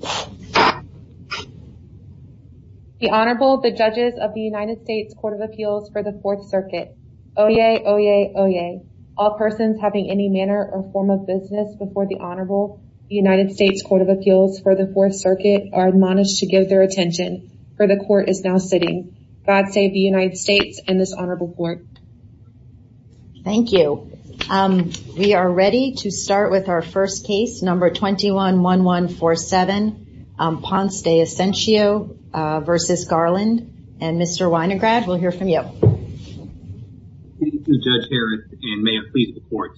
The Honorable, the Judges of the United States Court of Appeals for the Fourth Circuit. Oyez, oyez, oyez. All persons having any manner or form of business before the Honorable United States Court of Appeals for the Fourth Circuit are admonished to give their attention, for the Court is now sitting. God save the United States and this Honorable Court. Thank you. We are ready to start with our first case, number 21-1147, Ponce-De Ascencio v. Garland, and Mr. Winograd, we'll hear from you. Thank you, Judge Harris, and may it please the Court.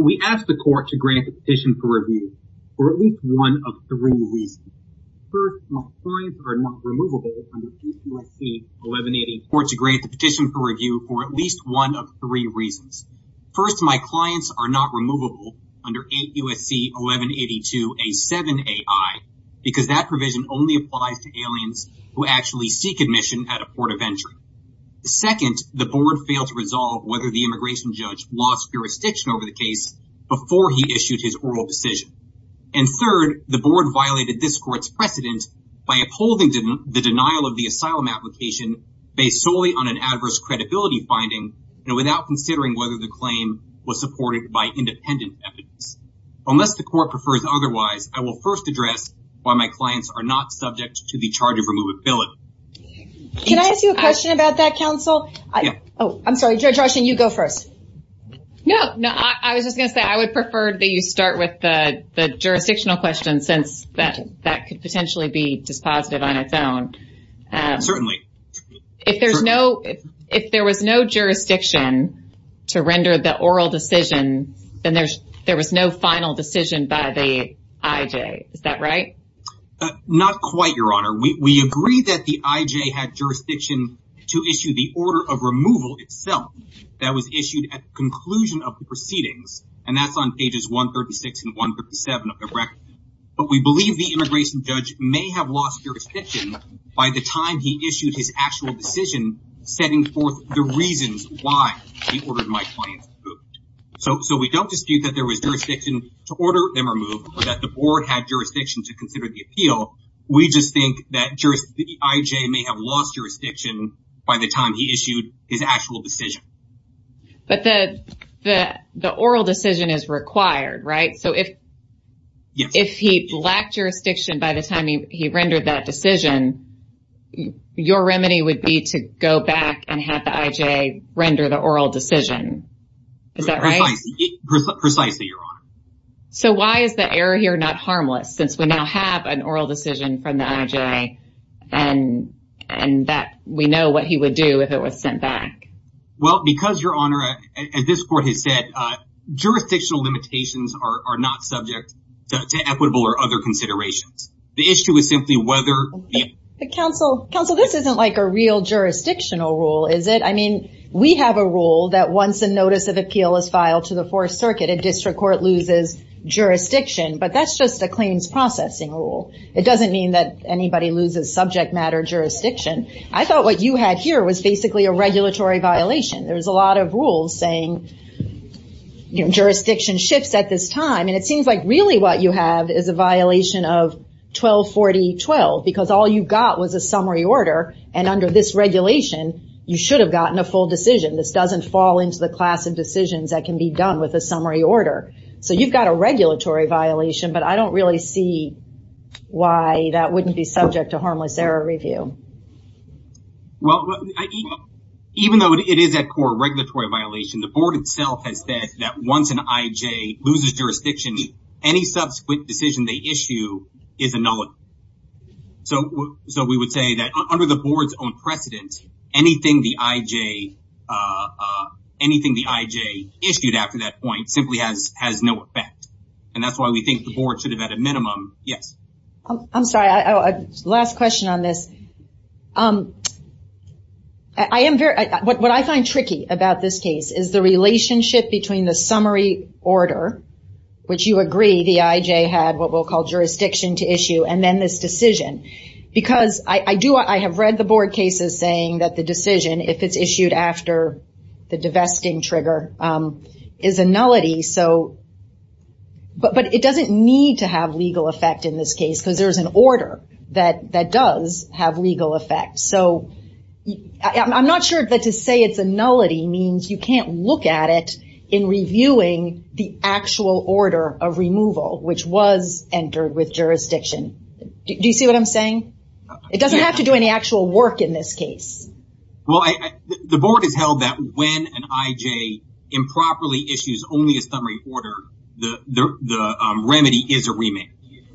We ask the Court to grant the petition for review for at least one of three reasons. First, my clients are not removable under 8 U.S.C. 1182-A7-AI because that provision only applies to aliens who actually seek admission at a port of entry. Second, the Board failed to resolve whether the immigration judge lost jurisdiction over the case before he issued his oral decision. And third, the Board violated this Court's precedent by upholding the denial of the asylum application based solely on an adverse credibility finding and without considering whether the claim was supported by independent evidence. Unless the Court prefers otherwise, I will first address why my clients are not subject to the charge of removability. Can I ask you a question about that, Counsel? Yeah. Oh, I'm sorry, Judge I've heard that you start with the jurisdictional question since that could potentially be dispositive on its own. Certainly. If there was no jurisdiction to render the oral decision, then there was no final decision by the IJ. Is that right? Not quite, Your Honor. We agree that the IJ had jurisdiction to issue the order of removal itself that was issued at the conclusion of pages 136 and 137 of the record. But we believe the immigration judge may have lost jurisdiction by the time he issued his actual decision setting forth the reasons why he ordered my clients removed. So we don't dispute that there was jurisdiction to order them removed or that the Board had jurisdiction to consider the appeal. We just think that the IJ may have lost jurisdiction by the time he issued his actual decision. But the oral decision is required, right? So if he lacked jurisdiction by the time he rendered that decision, your remedy would be to go back and have the IJ render the oral decision. Is that right? Precisely, Your Honor. So why is the error here not harmless since we now have an oral decision from the IJ and that we know what he would do if it was sent back? Well, because, Your Honor, as this Court has said, jurisdictional limitations are not subject to equitable or other considerations. The issue is simply whether... Counsel, this isn't like a real jurisdictional rule, is it? I mean, we have a rule that once a notice of appeal is filed to the Fourth Circuit, a district court loses jurisdiction, but that's just a claims processing rule. It doesn't mean that anybody loses subject matter jurisdiction. I thought what you had here was a regulatory violation. There's a lot of rules saying jurisdiction shifts at this time, and it seems like really what you have is a violation of 1240.12, because all you got was a summary order, and under this regulation, you should have gotten a full decision. This doesn't fall into the class of decisions that can be done with a summary order. So you've got a regulatory violation, but I don't really see why that wouldn't be subject to harmless error review. Well, even though it is, at core, a regulatory violation, the Board itself has said that once an IJ loses jurisdiction, any subsequent decision they issue is annullable. So we would say that under the Board's own precedent, anything the IJ issued after that point simply has no effect, and that's why we think the Board should have had a minimum... Yes? I'm sorry. Last question on this. What I find tricky about this case is the relationship between the summary order, which you agree the IJ had what we'll call jurisdiction to issue, and then this decision, because I have read the Board cases saying that the decision, if it's issued after the divesting trigger, is a nullity, but it doesn't need to have legal effect in this case, because there's an order that does have legal effect. So I'm not sure that to say it's a nullity means you can't look at it in reviewing the actual order of removal, which was entered with jurisdiction. Do you see what I'm saying? It doesn't have to do any actual work in this case. Well, the Board has held that when an IJ improperly issues only a summary order, the remedy is a remand.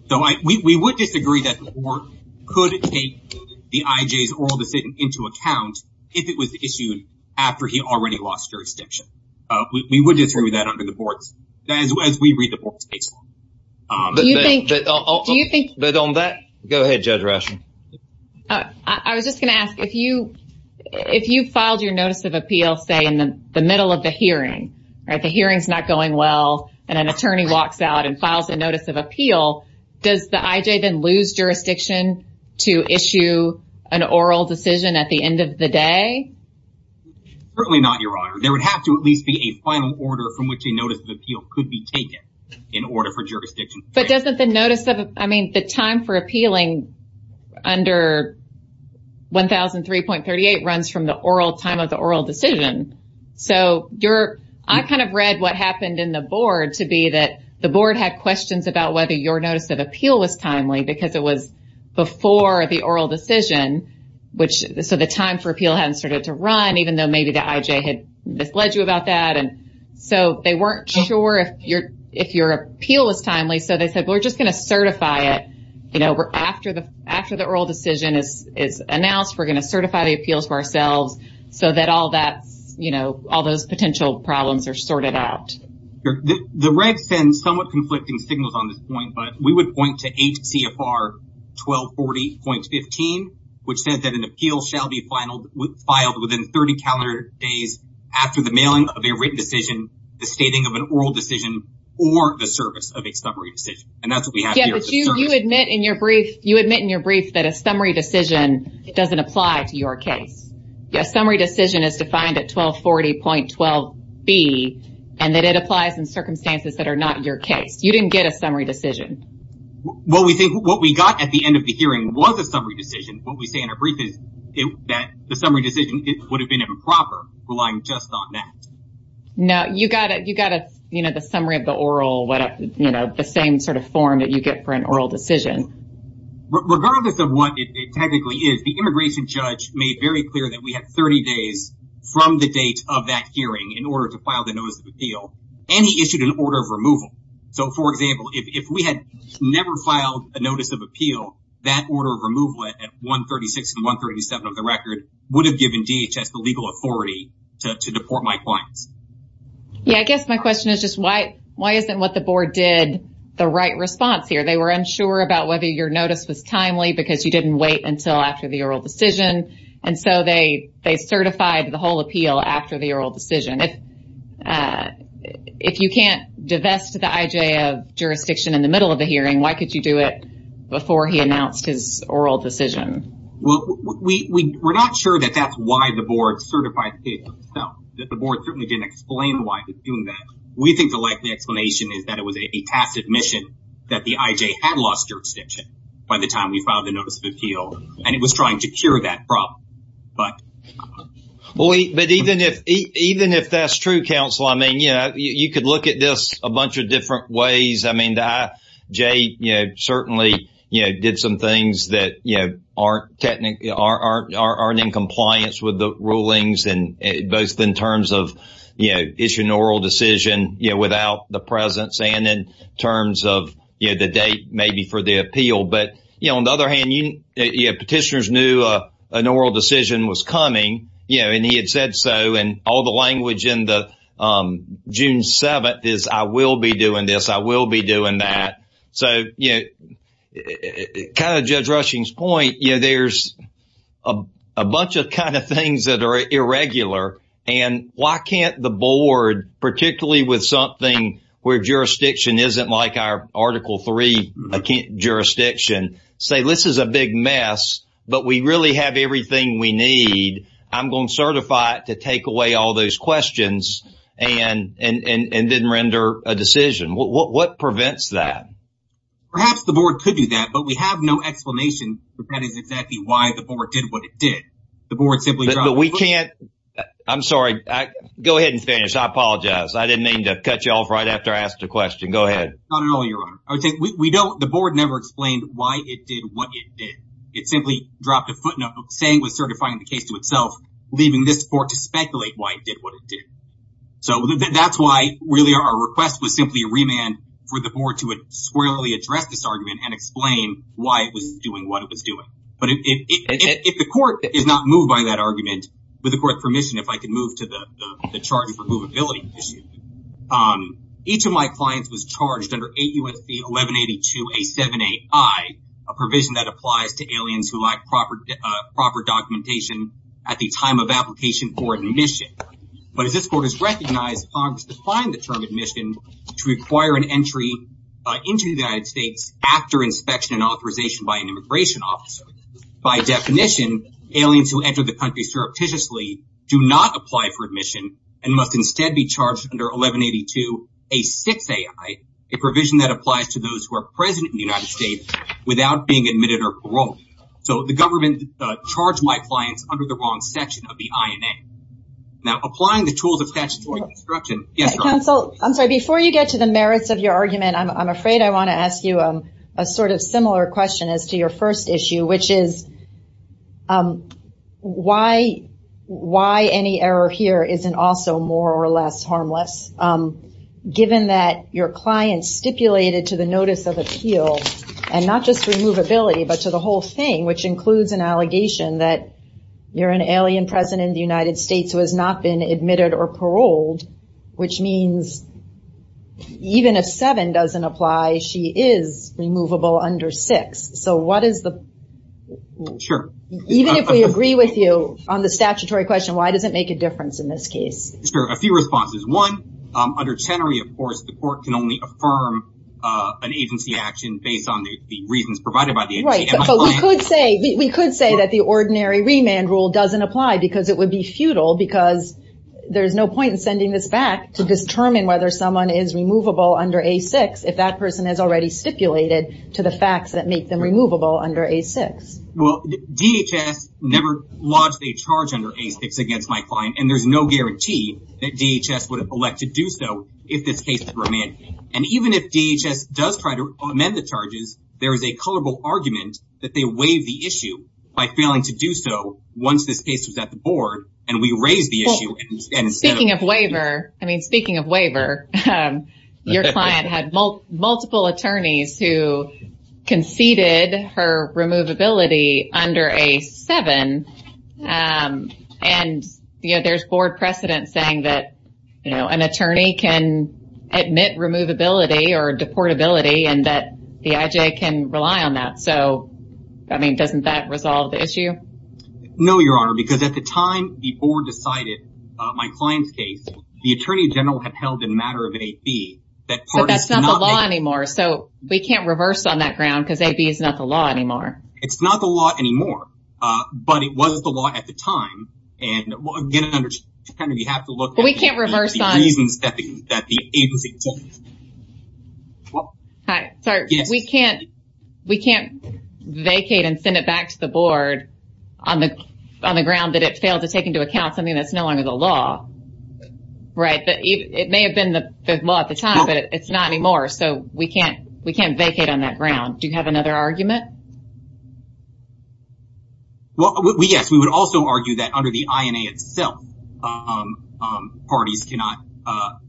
So we would disagree that the Board could take the IJ's oral decision into account if it was issued after he already lost jurisdiction. We would disagree with that under the Board's... As we read the Board's case. Do you think... But on that... Go ahead, Judge Rauschen. I was just going to ask, if you filed your notice of appeal, say, in the middle of the and an attorney walks out and files a notice of appeal, does the IJ then lose jurisdiction to issue an oral decision at the end of the day? Certainly not, Your Honor. There would have to at least be a final order from which a notice of appeal could be taken in order for jurisdiction... But doesn't the notice of... I mean, the time for appealing under 1003.38 runs from the oral time in the Board to be that the Board had questions about whether your notice of appeal was timely because it was before the oral decision. So the time for appeal hadn't started to run, even though maybe the IJ had misled you about that. And so they weren't sure if your appeal was timely. So they said, we're just going to certify it. After the oral decision is announced, we're going to certify the appeals for ourselves so that all those potential problems are sorted out. The red sends somewhat conflicting signals on this point, but we would point to HCFR 1240.15, which says that an appeal shall be filed within 30 calendar days after the mailing of a written decision, the stating of an oral decision, or the service of a summary decision. And that's what we have here. You admit in your brief that a summary decision doesn't apply to your case. A summary decision is defined at 1240.12b, and that it applies in circumstances that are not your case. You didn't get a summary decision. What we got at the end of the hearing was a summary decision. What we say in our brief is that the summary decision would have been improper, relying just on that. No, you got the summary of the oral, the same sort of form that you get for an oral decision. Regardless of what it technically is, the immigration judge made very clear that we have 30 days from the date of that hearing in order to file the notice of appeal, and he issued an order of removal. So, for example, if we had never filed a notice of appeal, that order of removal at 136 and 137 of the record would have given DHS the legal authority to deport my clients. Yeah, I guess my question is just why isn't what the board did the right response here? They were unsure about whether your notice was timely because you didn't wait until after the oral decision, and so they certified the whole appeal after the oral decision. If you can't divest the IJA jurisdiction in the middle of the hearing, why could you do it before he announced his oral decision? Well, we're not sure that that's why the board certified the case itself. The board certainly didn't explain why it was doing that. We think the likely explanation is that it was a tacit mission that the IJA had lost your extension by the time we filed the notice of appeal, and it was trying to cure that problem. But even if that's true, counsel, I mean, yeah, you could look at this a bunch of different ways. I mean, the IJA certainly did some things that aren't in compliance with the rulings, both in terms of issuing an oral decision without the presence and in terms of the date maybe for the appeal. But on the other hand, petitioners knew an oral decision was coming, and he had said so, and all the language in the June 7th is, I will be doing this, I will be doing that. So, you know, kind of Judge Rushing's point, you know, there's a bunch of kind of things that are irregular. And why can't the board, particularly with something where jurisdiction isn't like our Article 3 jurisdiction, say this is a big mess, but we really have everything we need. I'm going to certify it to take away all those questions and then render a decision. What prevents that? Perhaps the board could do that, but we have no explanation for that is exactly why the board did what it did. The board simply, but we can't, I'm sorry. Go ahead and finish. I apologize. I didn't mean to cut you off right after I asked a question. Go ahead. Not at all, Your Honor. I would say we don't, the board never explained why it did what it did. It simply dropped a footnote saying was certifying the case to itself, leaving this court to speculate why it did what it did. So that's why really our request was simply a remand for the board to squarely address this argument and explain why it was doing what it was doing. But if the court is not moved by that argument, with the court's permission, if I could move to the charge of removability issue, each of my clients was charged under 8 U.S.C. 1182-A7AI, a provision that applies to aliens who lack proper documentation at the time of application for admission. But as this court has recognized, Congress defined the term admission to require an entry into the United States after inspection and authorization by an immigration officer. By definition, aliens who enter the country surreptitiously do not apply for admission and must instead be charged under 1182-A6AI, a provision that applies to those who are present in the United States without being admitted or paroled. So the government charged my clients under the wrong section of the INA. Now, applying the tools of statutory construction... Yes, Counsel. I'm sorry. Before you get to the merits of your argument, I'm afraid I want to ask you a sort of similar question as to your first issue, which is why any error here isn't also more or less harmless, given that your client stipulated to the notice of appeal and not just removability, but to the whole thing, which includes an allegation that you're an alien present in the United States who has not been admitted or paroled, which means even if 7 doesn't apply, she is removable under 6. So what is the... Sure. Even if we agree with you on the statutory question, why does it make a difference in this case? Sure. A few responses. One, under Chenery, of course, the court can only affirm an agency action based on the reasons provided by the agency. Right. But we could say that the ordinary remand rule doesn't apply because it would be futile because there's no point in sending this back to determine whether someone is removable under A6 if that person has already stipulated to the facts that make them removable under A6. Well, DHS never lodged a charge under A6 against my client, and there's no guarantee that DHS would elect to do so if this case is remanded. And even if DHS does try to amend the charges, there is a colorable argument that they waive the issue by failing to do so once this case was at the board and we raised the issue and instead of... Speaking of waiver, I mean, speaking of waiver, your client had multiple attorneys who conceded her removability under A7, and there's board precedent saying that an attorney can admit removability or deportability and that the IJ can rely on that. So, I mean, doesn't that resolve the issue? No, Your Honor, because at the time the board decided my client's case, the attorney general had held in matter of AB that... But that's not the law anymore, so we can't reverse on that ground because AB is not the law anymore. It's not the law anymore, but it was the law at the time. And again, you have to look... But we can't reverse on... The reasons that the agency... Hi, sorry, we can't vacate and send it back to the board on the ground that it failed to take into account something that's no longer the law, right? It may have been the law at the time, but it's not anymore, so we can't vacate on that ground. Do you have another argument? Well, yes, we would also argue that under the INA itself, parties cannot,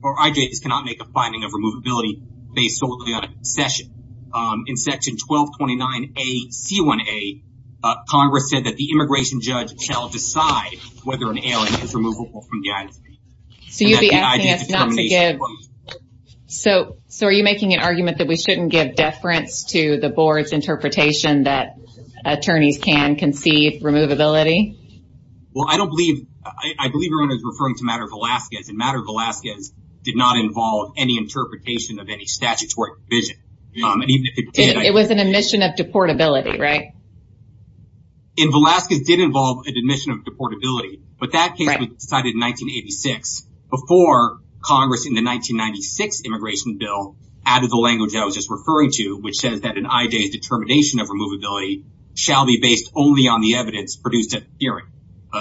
or IJs cannot make a finding of removability based solely on a concession. In section 1229A, C1A, Congress said that the immigration judge shall decide whether an alien is removable from the IJ. So you'd be asking us not to give... So are you making an argument that we shouldn't give deference to the board's interpretation that attorneys can conceive removability? Well, I don't believe... I believe everyone is referring to Matter of Alaskans, and Matter of Alaskans did not involve any interpretation of any statutory division. It was an admission of deportability, right? In Alaskans, it did involve an admission of deportability, but that case was decided in 1986 before Congress in the 1996 immigration bill added the language I was just referring to, which says that an IJ's determination of removability shall be based only on the evidence produced at the hearing.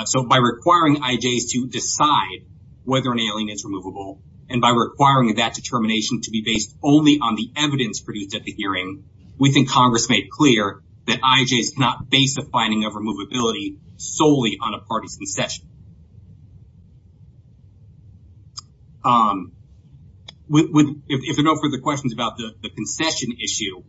So by requiring IJs to decide whether an alien is removable, and by requiring that determination to be based only on the evidence produced at the hearing, we think Congress made clear that IJs cannot base a finding of removability solely on a party's concession. If there are no further questions about the concession issue,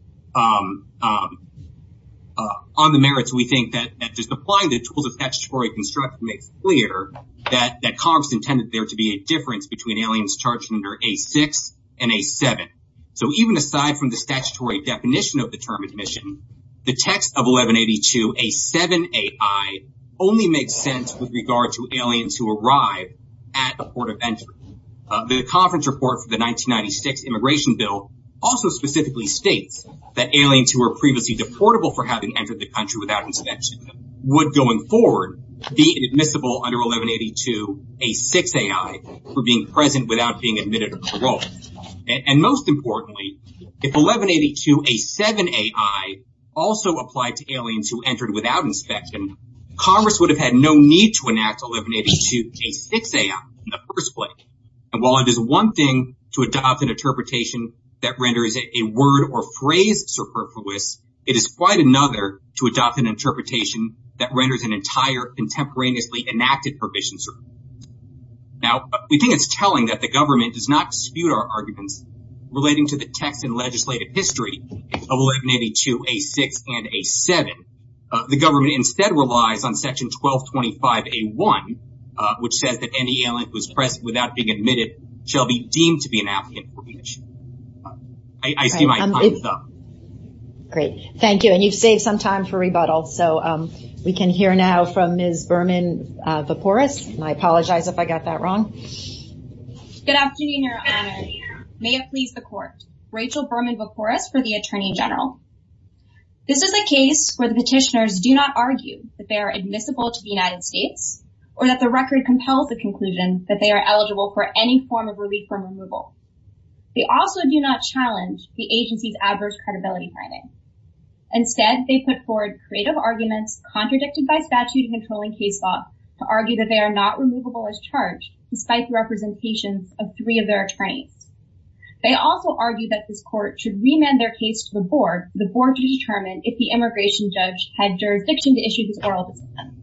on the merits, we think that just applying the tools of statutory construction makes clear that Congress intended there to be a difference between aliens charged under A6 and A7. So even aside from the statutory definition of the term admission, the text of 1182A7AI only makes sense with regard to aliens who arrive at the port of entry. The conference report for the 1996 immigration bill also specifically states that aliens who were previously deportable for having entered the country without inspection would, going forward, be admissible under 1182A6AI for being present without being admitted of parole. And most importantly, if 1182A7AI also applied to aliens who entered without inspection, Congress would have had no need to enact 1182A6AI in the first place. And while it is one thing to adopt an interpretation that renders a word or phrase superfluous, it is quite another to adopt an interpretation that renders an entire contemporaneously enacted provision. Now, we think it's telling that the government does not dispute our arguments relating to the text and legislative history of 1182A6 and A7. The government instead relies on section 1225A1, which says that any alien who is present without being admitted shall be deemed to be an applicant for admission. I see my time is up. Great. Thank you. And you've saved some time for rebuttal. So, we can hear now from Ms. Berman-Veporis, and I apologize if I got that wrong. Good afternoon, Your Honor. May it please the Court. Rachel Berman-Veporis for the Attorney General. This is a case where the petitioners do not argue that they are admissible to the United States or that the record compels the conclusion that they are eligible for any form of relief from removal. They also do not challenge the agency's adverse credibility finding. Instead, they put forward creative arguments contradicted by statute-controlling case law to argue that they are not removable as charged, despite the representations of three of their attorneys. They also argue that this Court should remand their case to the board, the board to determine if the immigration judge had jurisdiction to issue this oral decision.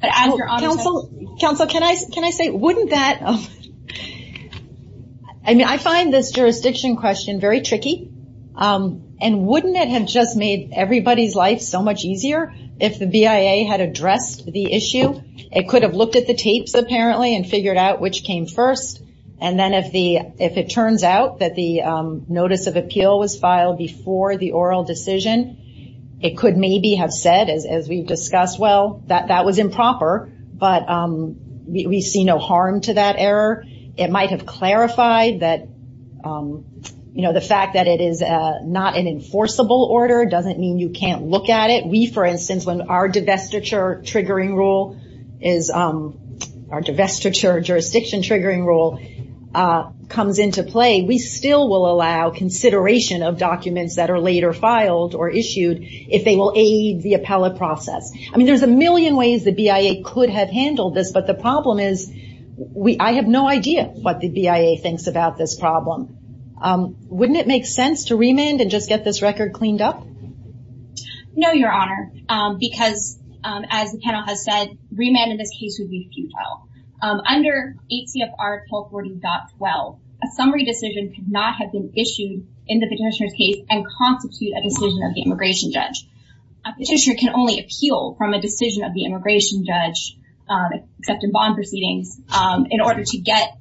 But as Your Honor said- Counsel, can I say, wouldn't that- I mean, I find this jurisdiction question very tricky. And wouldn't it have just made everybody's life so much easier if the BIA had addressed the issue? It could have looked at the tapes, apparently, and figured out which came first. And then if it turns out that the notice of appeal was filed before the oral decision, it could maybe have said, as we've discussed, well, that was improper, but we see no harm to that error. It might have clarified that the fact that it is not an enforceable order doesn't mean you can't look at it. We, for instance, when our divestiture triggering rule is- our divestiture jurisdiction triggering rule comes into play, we still will allow consideration of documents that are later filed or issued if they will aid the appellate process. I mean, there's a million ways the BIA could have handled this. But the problem is, I have no idea what the BIA thinks about this problem. Wouldn't it make sense to remand and just get this record cleaned up? No, Your Honor, because as the panel has said, remand in this case would be futile. Under ACFR 1240.12, a summary decision could not have been issued in the petitioner's case and constitute a decision of the immigration judge. A petitioner can only appeal from a decision of the immigration judge, except in bond proceedings, in order to get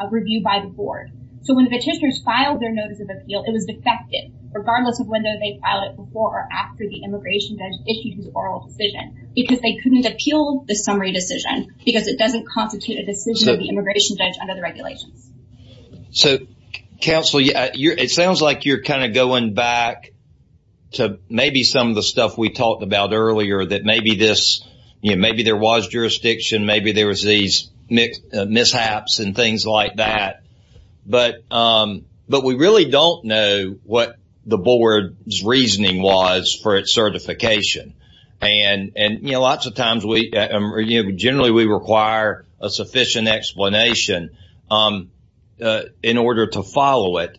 a review by the board. So when the petitioners filed their notice of appeal, it was defected, regardless of whether they filed it before or after the immigration judge issued his oral decision, because they couldn't appeal the summary decision because it doesn't constitute a decision of the immigration judge under the regulations. So, counsel, it sounds like you're kind of going back to maybe some of the stuff we talked about earlier, that maybe this, you know, maybe there was jurisdiction, maybe there was these mishaps and things like that. But we really don't know what the board's reasoning was for its certification. And, you know, lots of times we, you know, generally we require a sufficient explanation in order to follow it.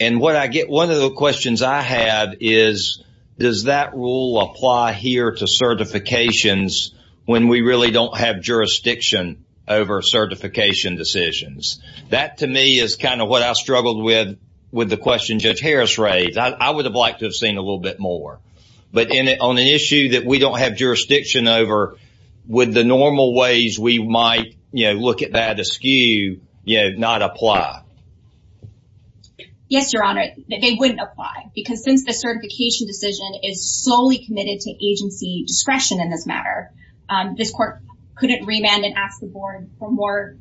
And what I get, one of the questions I have is, does that rule apply here to certifications when we really don't have jurisdiction over certification decisions? That, to me, is kind of what I struggled with, with the question Judge Harris raised. I would have liked to have seen a little bit more. But on an issue that we don't have jurisdiction over, would the normal ways we might, you know, look at that askew, you know, not apply? Yes, Your Honor, they wouldn't apply. Because since the certification decision is solely committed to agency discretion in this matter, this court couldn't remand and ask the board for more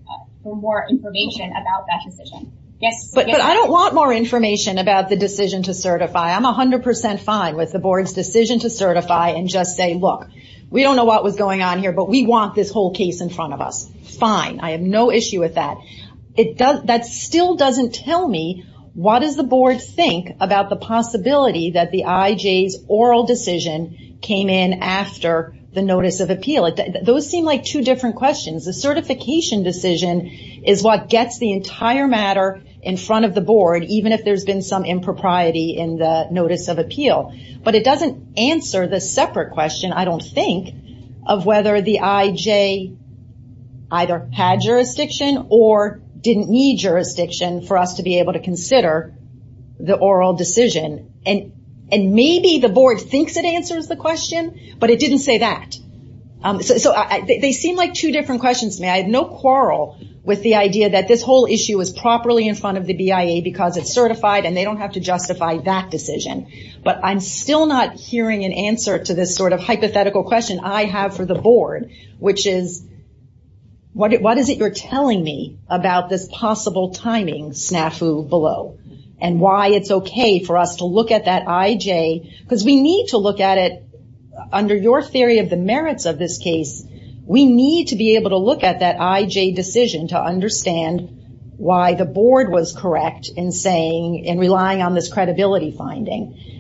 information about that decision. Yes. But I don't want more information about the decision to certify. I'm 100% fine with the board's decision to certify and just say, look, we don't know what was going on here, but we want this whole case in front of us. Fine. I have no issue with that. That still doesn't tell me, what does the board think about the possibility that the IJ's oral decision came in after the notice of appeal? Those seem like two different questions. The certification decision is what gets the entire matter in front of the board, even if there's been some impropriety in the notice of appeal. But it doesn't answer the separate question, I don't think, of whether the IJ either had jurisdiction or didn't need jurisdiction for us to be able to consider the oral decision. And maybe the board thinks it answers the question, but it didn't say that. So they seem like two different questions to me. I have no quarrel with the idea that this whole issue is properly in front of the BIA because it's certified and they don't have to justify that decision. But I'm still not hearing an answer to this sort of hypothetical question I have for the board, which is, what is it you're telling me about this possible timing snafu below? And why it's okay for us to look at that IJ? Because we need to look at it, under your theory of the merits of this case, we need to be able to look at that IJ decision to understand why the board was correct in relying on this credibility finding.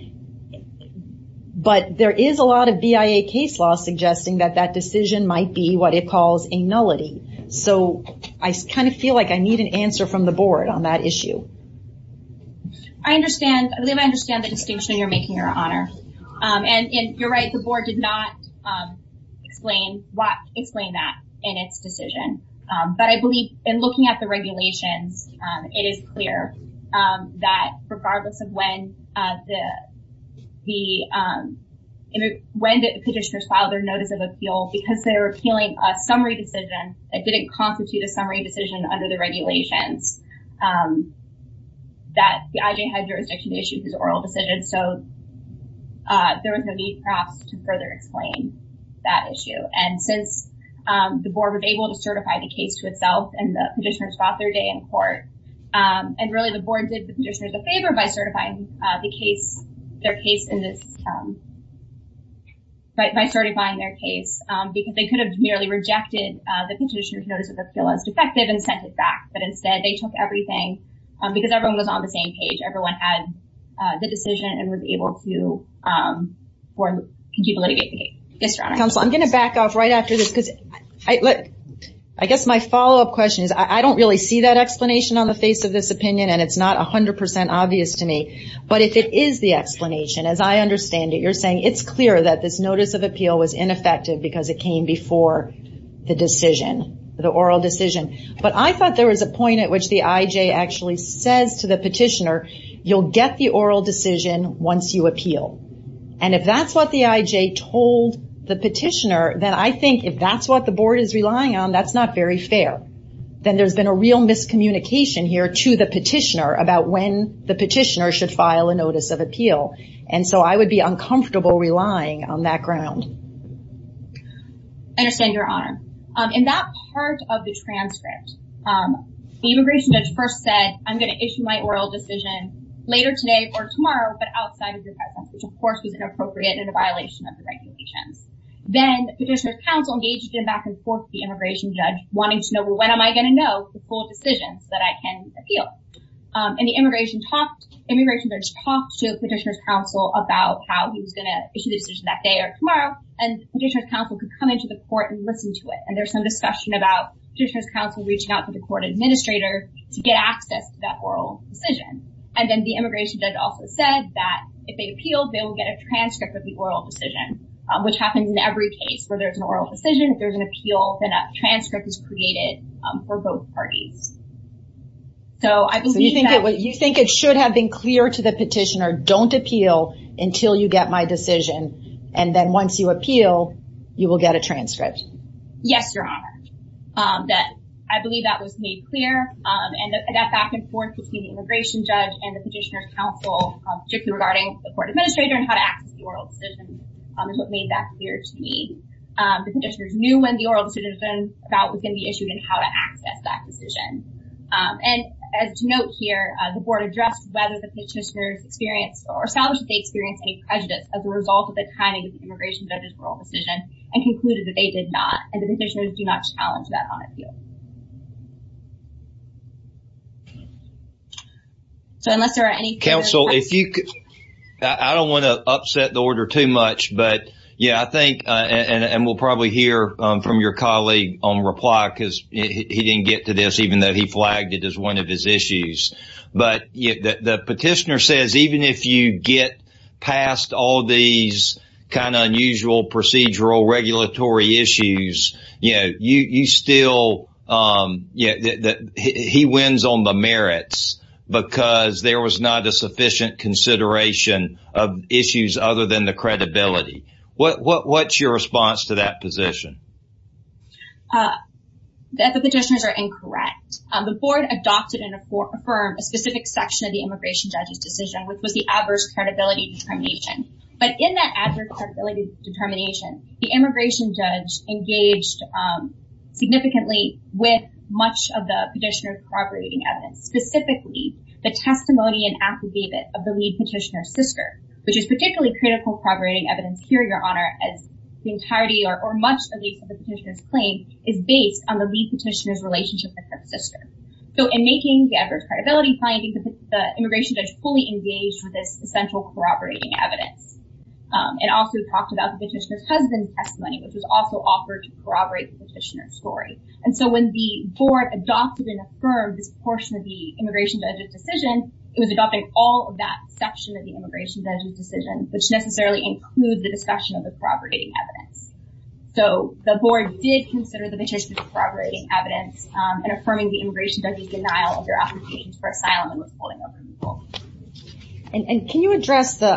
But there is a lot of BIA case law suggesting that that decision might be what it calls a nullity. So I kind of feel like I need an answer from the board on that issue. I believe I understand the distinction you're making, Your Honor. And you're right, the board did not explain that in its decision. But I believe in looking at the regulations, it is clear that regardless of when the petitioners filed their notice of appeal, because they were appealing a summary decision that didn't constitute a summary decision under the regulations that the IJ had jurisdiction to issue this oral decision. So there was no need, perhaps, to further explain that issue. And since the board was able to certify the case to itself, and the petitioners fought their day in court, and really the board did the petitioners a favor by certifying their case, because they could have merely rejected the petitioner's notice of appeal as defective and sent it back. But instead, they took everything, because everyone was on the same page. Everyone had the decision and was able to keep litigating the case. Yes, Your Honor. Counsel, I'm going to back off right after this, because I guess my follow-up question is, I don't really see that explanation on the face of this opinion, and it's not 100% obvious to me. But if it is the explanation, as I understand it, you're saying it's clear that this notice of appeal was ineffective because it came before the decision, the oral decision. But I thought there was a point at which the IJ actually says to the petitioner, you'll get the oral decision once you appeal. And if that's what the IJ told the petitioner, then I think if that's what the board is relying on, that's not very fair. Then there's been a real miscommunication here to the petitioner about when the petitioner should file a notice of appeal. And so I would be uncomfortable relying on that ground. I understand, Your Honor. In that part of the transcript, the immigration judge first said, I'm going to issue my oral decision later today or tomorrow, but outside of your presence, which of course was inappropriate and a violation of the regulations. Then the petitioner's counsel engaged in back and forth with the immigration judge, wanting to know, well, when am I going to know the full decision so that I can appeal? And the immigration judge talked to the petitioner's counsel about how he was going to issue the decision that day or tomorrow, and the petitioner's counsel could come into the court and listen to it. And there's some discussion about petitioner's counsel reaching out to the court administrator to get access to that oral decision. And then the immigration judge also said that if they appealed, they will get a transcript of the oral decision, which happens in every case. Whether it's an oral decision, if there's an appeal, then a transcript is created for both parties. So I believe that- You think it should have been clear to the petitioner, don't appeal until you get my decision. And then once you appeal, you will get a transcript. Yes, Your Honor. I believe that was made clear. And that back and forth between the immigration judge and the petitioner's counsel, particularly regarding the court administrator and how to access the oral decision is what made that clear to me. The petitioners knew when the oral decision was going to be issued and how to access that decision. And as to note here, the board addressed whether the petitioners experienced or established that they experienced any prejudice as a result of the timing of the immigration judge's oral decision and concluded that they did not. And the petitioners do not challenge that on appeal. So unless there are any- Counsel, if you could- I don't want to upset the order too much, but yeah, I think, and we'll probably hear from your colleague on reply because he didn't get to this, even though he flagged it as one of his issues. But the petitioner says, even if you get past all these kind of unusual procedural regulatory issues, you still, he wins on the merits because there was not a sufficient consideration of issues other than the credibility. What's your response to that position? That the petitioners are incorrect. The board adopted and affirmed a specific section of the immigration judge's decision, which was the adverse credibility determination. But in that adverse credibility determination, the immigration judge engaged significantly with much of the petitioner's corroborating evidence, specifically the testimony and affidavit of the lead petitioner's sister, which is particularly critical corroborating evidence here, Your Honor, as the entirety or much of the petitioner's claim is based on the lead petitioner's relationship with her sister. So in making the adverse credibility findings, the immigration judge fully engaged with this central corroborating evidence and also talked about the petitioner's husband's testimony, which was also offered to corroborate the petitioner's story. And so when the board adopted and affirmed this portion of the immigration judge's decision, it was adopting all of that section of the immigration judge's decision, which necessarily includes the discussion of the corroborating evidence. So the board did consider the petitioner's corroborating evidence and affirming the immigration judge's denial of their application for asylum and was holding open the vote. And can you address the...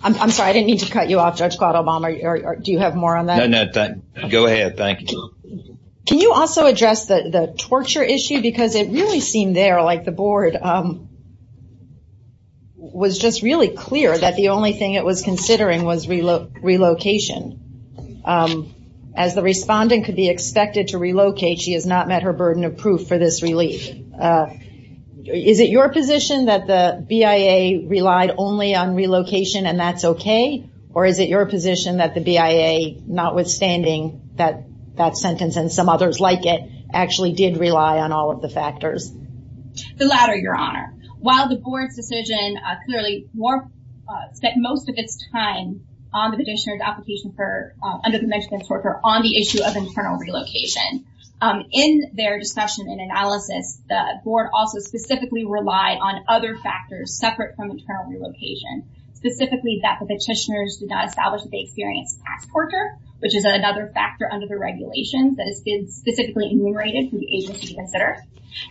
I'm sorry, I didn't mean to cut you off, Judge Quattlebaum, or do you have more on that? No, no, go ahead. Thank you. Can you also address the torture issue? Because it really seemed there, like the board was just really clear that the only thing it was considering was relocation. As the respondent could be expected to relocate, she has not met her burden of proof for this relief. So is it your position that the BIA relied only on relocation and that's okay? Or is it your position that the BIA, notwithstanding that sentence and some others like it, actually did rely on all of the factors? The latter, Your Honor. While the board's decision clearly spent most of its time on the petitioner's application for... Under the Mexican torture on the issue of internal relocation. In their discussion and analysis, the board also specifically relied on other factors separate from internal relocation. Specifically that the petitioners did not establish that they experienced past torture, which is another factor under the regulations that has been specifically enumerated for the agency to consider.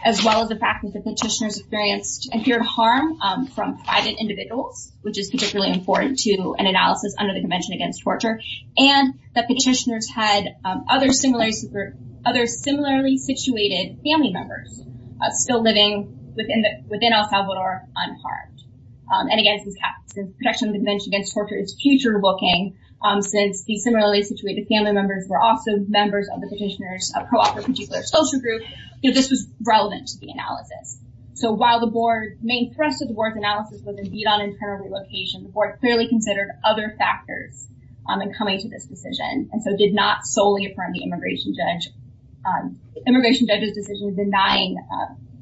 As well as the fact that the petitioners experienced and feared harm from private individuals, which is particularly important to an analysis under the Convention Against Torture. And the petitioners had other similarly situated family members still living within El Salvador unharmed. And again, this protection of the Convention Against Torture is future-looking since these similarly situated family members were also members of the petitioner's co-author particular social group. This was relevant to the analysis. So while the board... Main thrust of the board's analysis was indeed on internal relocation, the board clearly considered other factors in coming to this decision. And so did not solely affirm the immigration judge... Immigration judge's decision denying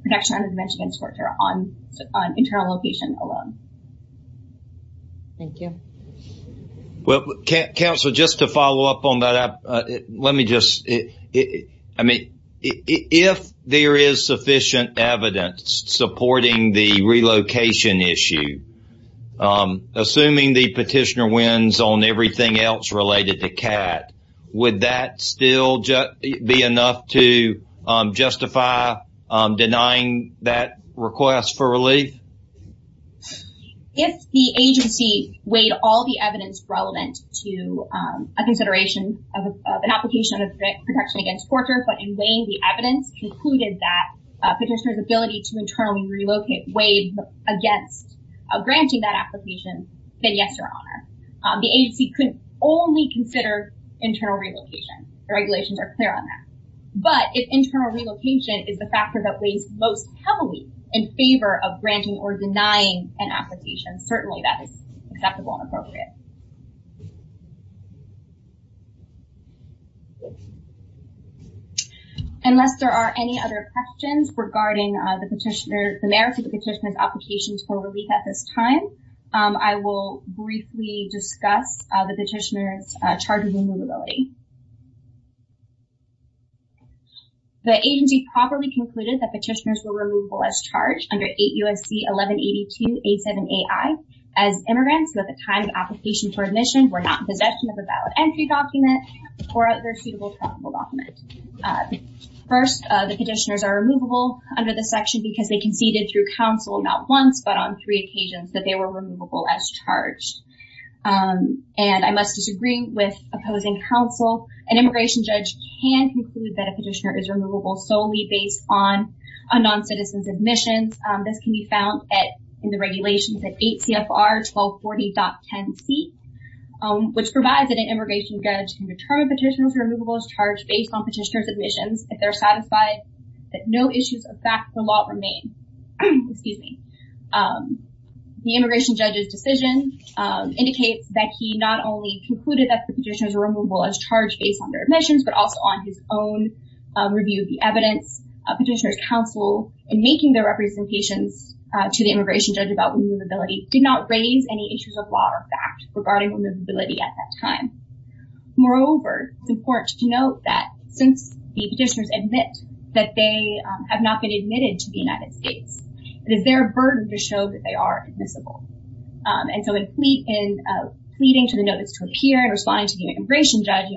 protection under the Convention Against Torture on internal location alone. Thank you. Well, counsel, just to follow up on that, let me just... I mean, if there is sufficient evidence supporting the relocation issue, assuming the petitioner wins on everything else related to CAT, would that still be enough to justify denying that request for relief? If the agency weighed all the evidence relevant to a consideration of an application of protection against torture, but in weighing the evidence concluded that petitioner's ability to internally relocate weighed against granting that application, then yes, Your Honor. The agency could only consider internal relocation. The regulations are clear on that. But if internal relocation is the factor that weighs most heavily in favor of granting or denying an application, certainly that is acceptable and appropriate. Thank you. Unless there are any other questions regarding the petitioner... The merits of the petitioner's application for relief at this time, I will briefly discuss the petitioner's charges and removability. The agency properly concluded that petitioners were removable as charged under 8 U.S.C. 1182 87AI as immigrants, but at the time of application for admission were not in possession of a valid entry document or other suitable document. First, the petitioners are removable under this section because they conceded through counsel not once, but on three occasions that they were removable as charged. And I must disagree with opposing counsel. An immigration judge can conclude that a petitioner is removable solely based on a non-citizen's admissions. This can be found in the regulations at 8 CFR 1240.10C, which provides that an immigration judge can determine petitioners are removable as charged based on petitioner's admissions if they're satisfied that no issues of fact the law remain. Excuse me. The immigration judge's decision indicates that he not only concluded that the petitioners are removable as charged based on their admissions, but also on his own review of the evidence of petitioner's counsel in making their representations to the immigration judge about removability did not raise any issues of law or fact regarding removability at that time. Moreover, it's important to note that since the petitioners admit that they have not been admitted to the United States, it is their burden to show that they are admissible. And so in pleading to the notice to appear and responding to the immigration judge,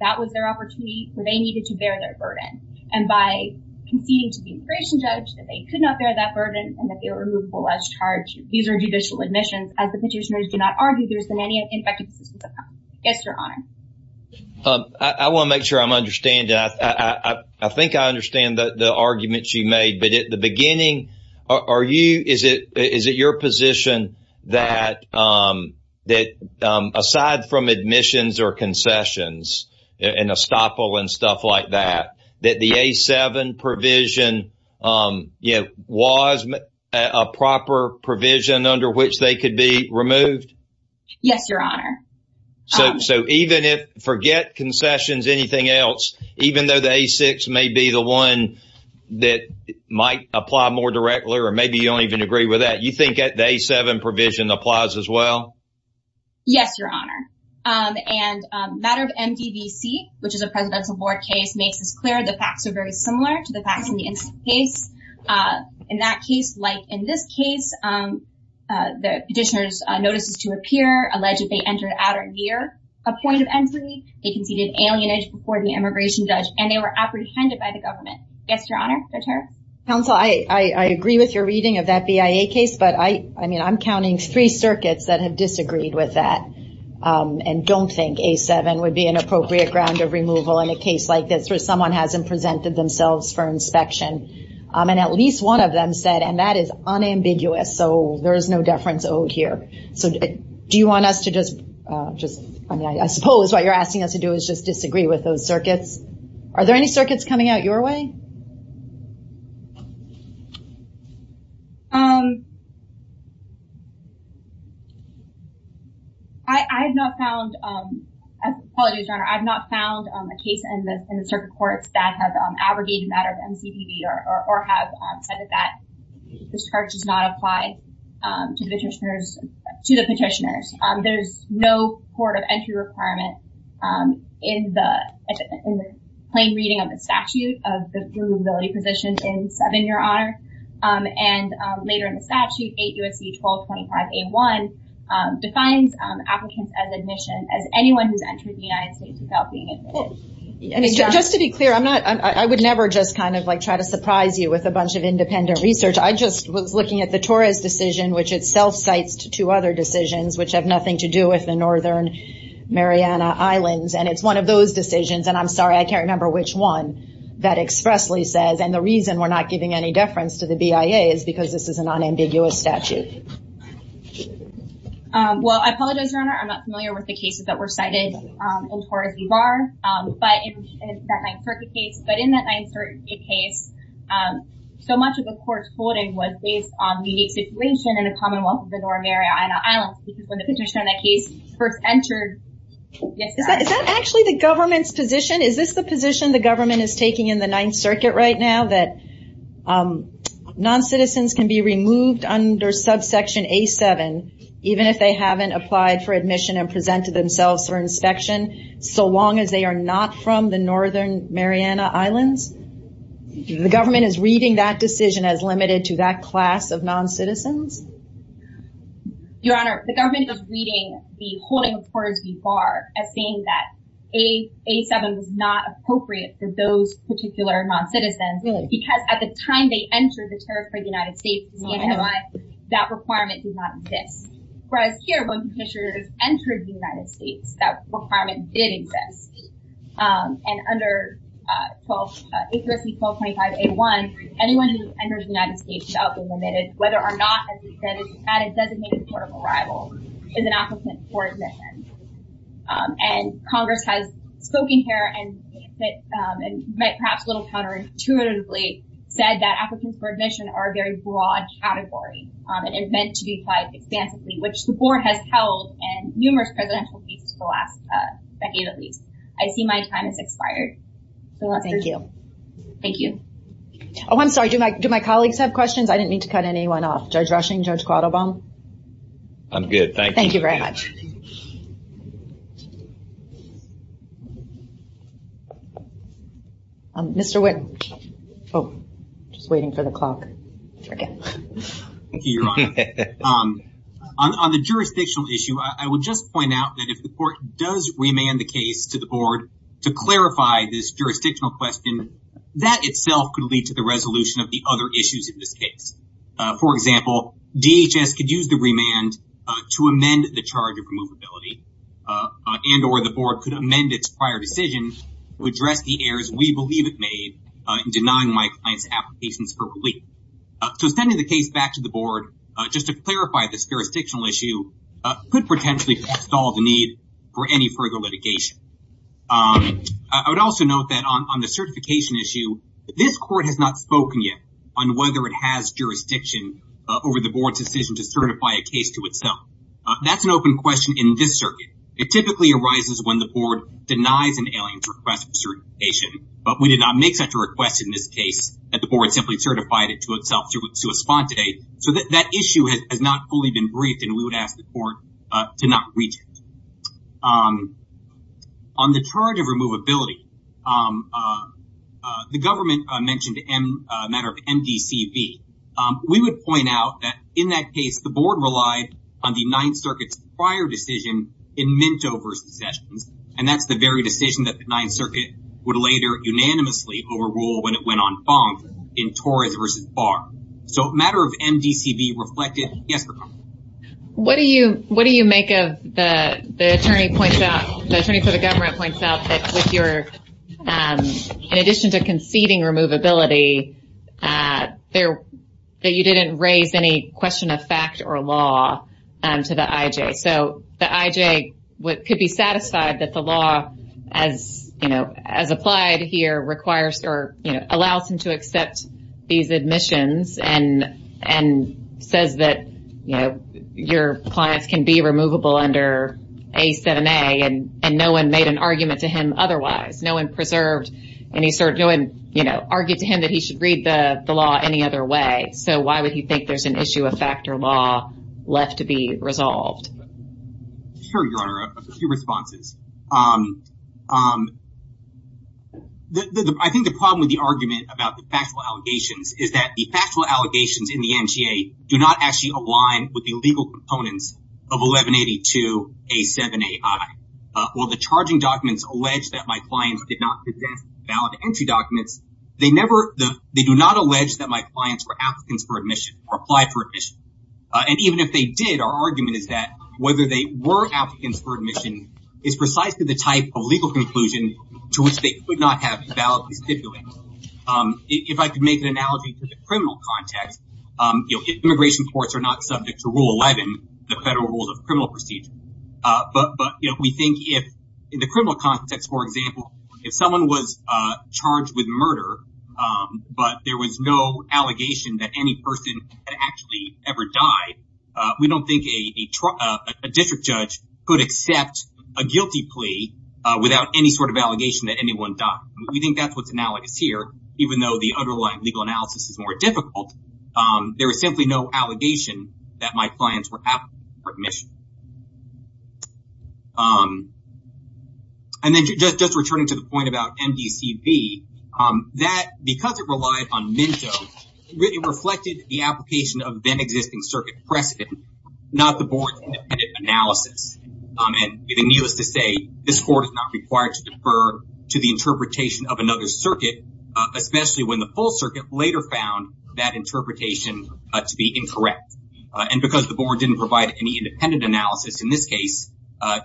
that was their opportunity. They needed to bear their burden. And by conceding to the immigration judge that they could not bear that burden and that they were removable as charged, these are judicial admissions. As the petitioners do not argue, there has been any effective assistance of counsel. Yes, Your Honor. I want to make sure I'm understanding. I think I understand the argument she made. But at the beginning, is it your position that aside from admissions or concessions, and estoppel and stuff like that, that the A-7 provision, you know, was a proper provision under which they could be removed? Yes, Your Honor. So even if, forget concessions, anything else, even though the A-6 may be the one that might apply more directly, or maybe you don't even agree with that, you think the A-7 provision applies as well? Yes, Your Honor. And matter of MDVC, which is a presidential board case, makes this clear. The facts are very similar to the facts in the incident case. In that case, like in this case, the petitioners' notices to appear allege that they entered at or near a point of entry. They conceded alienage before the immigration judge, and they were apprehended by the government. Yes, Your Honor. Counsel, I agree with your reading of that BIA case, but I mean, I'm counting three circuits that have disagreed with that. And don't think A-7 would be an appropriate ground of removal in a case like this, where someone hasn't presented themselves for inspection. And at least one of them said, and that is unambiguous, so there is no deference owed here. So do you want us to just, I mean, I suppose what you're asking us to do is just disagree with those circuits. Are there any circuits coming out your way? I have not found, apologies, Your Honor, I have not found a case in the circuit courts that have abrogated the matter of MCPD, or have said that this charge is not applied to the petitioners. There's no court of entry requirement in the plain reading of the statute of the BIA case. And later in the statute, 8 U.S.C. 1225 A-1 defines applicants as admission, as anyone who's entered the United States without being admitted. Just to be clear, I'm not, I would never just kind of like try to surprise you with a bunch of independent research. I just was looking at the Torres decision, which itself cites two other decisions, which have nothing to do with the Northern Mariana Islands. And it's one of those decisions, and I'm sorry, I can't remember which one, that expressly says, and the reason we're not giving any deference to the BIA is because this is a non-ambiguous statute. Well, I apologize, Your Honor, I'm not familiar with the cases that were cited in Torres v. Barr, but in that 9th Circuit case, but in that 9th Circuit case, so much of the court's holding was based on the situation in the Commonwealth of the Northern Mariana Islands, because when the petitioner in that case first entered... Is that actually the government's position? Is this the position the government is taking in the 9th Circuit right now, that non-citizens can be removed under subsection A7, even if they haven't applied for admission and presented themselves for inspection, so long as they are not from the Northern Mariana Islands? The government is reading that decision as limited to that class of non-citizens? Your Honor, the government is reading the holding of Torres v. Barr as saying that A7 was not appropriate for those particular non-citizens, because at the time they entered the territory of the United States, that requirement did not exist. Whereas here, when the petitioner has entered the United States, that requirement did exist. And under A3C 1225A1, anyone who enters the United States without being admitted, whether or not, as we said, is at a designated point of arrival, is an applicant for admission. And Congress has spoken here and perhaps a little counterintuitively said that applicants for admission are a very broad category and meant to be applied expansively, which the board has held in numerous presidential weeks for the last decade at least. I see my time has expired. Thank you. Thank you. Oh, I'm sorry. Do my colleagues have questions? I didn't mean to cut anyone off. Judge Rushing, Judge Quattlebaum? I'm good, thank you. Thank you very much. Thank you. Mr. Witt. Oh, just waiting for the clock. Thank you, Your Honor. On the jurisdictional issue, I will just point out that if the court does remand the case to the board to clarify this jurisdictional question, that itself could lead to the resolution of the other issues in this case. For example, DHS could use the remand to amend the charge of removability and or the board could amend its prior decision to address the errors we believe it made in denying my client's applications for relief. So sending the case back to the board just to clarify this jurisdictional issue could potentially stall the need for any further litigation. I would also note that on the certification issue, this court has not spoken yet on whether it has jurisdiction over the board's decision to certify a case to itself. That's an open question in this circuit. It typically arises when the board denies an alien's request for certification, but we did not make such a request in this case that the board simply certified it to itself to a spot today. So that issue has not fully been briefed and we would ask the court to not reach it. On the charge of removability, the government mentioned a matter of MDCV. We would point out that in that case, the board relied on the Ninth Circuit's prior decision in Minto v. Sessions, and that's the very decision that the Ninth Circuit would later unanimously overrule when it went on Fong in Torres v. Barr. So a matter of MDCV reflected. What do you make of the attorney points out, the attorney for the government points out that with your, in addition to conceding removability, that you didn't raise any question of fact or law to the I.J.? So the I.J. could be satisfied that the law as applied here requires or allows him to accept these admissions and says that your clients can be removable under A7A and no one made an argument to him otherwise. No one preserved any certain, no one argued to him that he should read the law any other way. So why would he think there's an issue of fact or law left to be resolved? Sure, Your Honor, a few responses. I think the problem with the argument about the factual allegations is that the factual allegations in the NGA do not actually align with the legal components of 1182 A7AI. While the charging documents allege that my clients did not present valid entry documents, they never, they do not allege that my clients were applicants for admission or applied for admission. And even if they did, our argument is that whether they were applicants for admission is precisely the type of legal conclusion to which they could not have validly stipulated. If I could make an analogy to the criminal context, immigration courts are not subject to Rule 11, the federal rules of criminal procedure. But we think if in the criminal context, for example, if someone was charged with murder, but there was no allegation that any person had actually ever died, we don't think a district judge could accept a guilty plea without any sort of allegation that anyone died. We think that's what's analogous here, even though the underlying legal analysis is more difficult. There was simply no allegation that my clients were applicants for admission. And then just returning to the point about MDCV, that because it relied on Minto, it really reflected the application of then existing circuit precedent, not the board's independent analysis. And the needless to say, this court is not required to defer to the interpretation of another circuit, especially when the full circuit later found that interpretation to be incorrect. And because the board didn't provide any independent analysis in this case,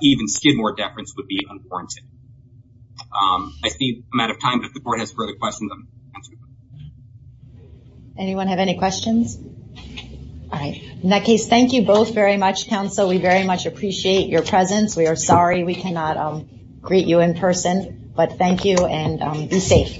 even Skidmore deference would be unwarranted. I see I'm out of time, but if the board has further questions. Anyone have any questions? All right. In that case, thank you both very much, counsel. We very much appreciate your presence. We are sorry we cannot greet you in person, but thank you and be safe.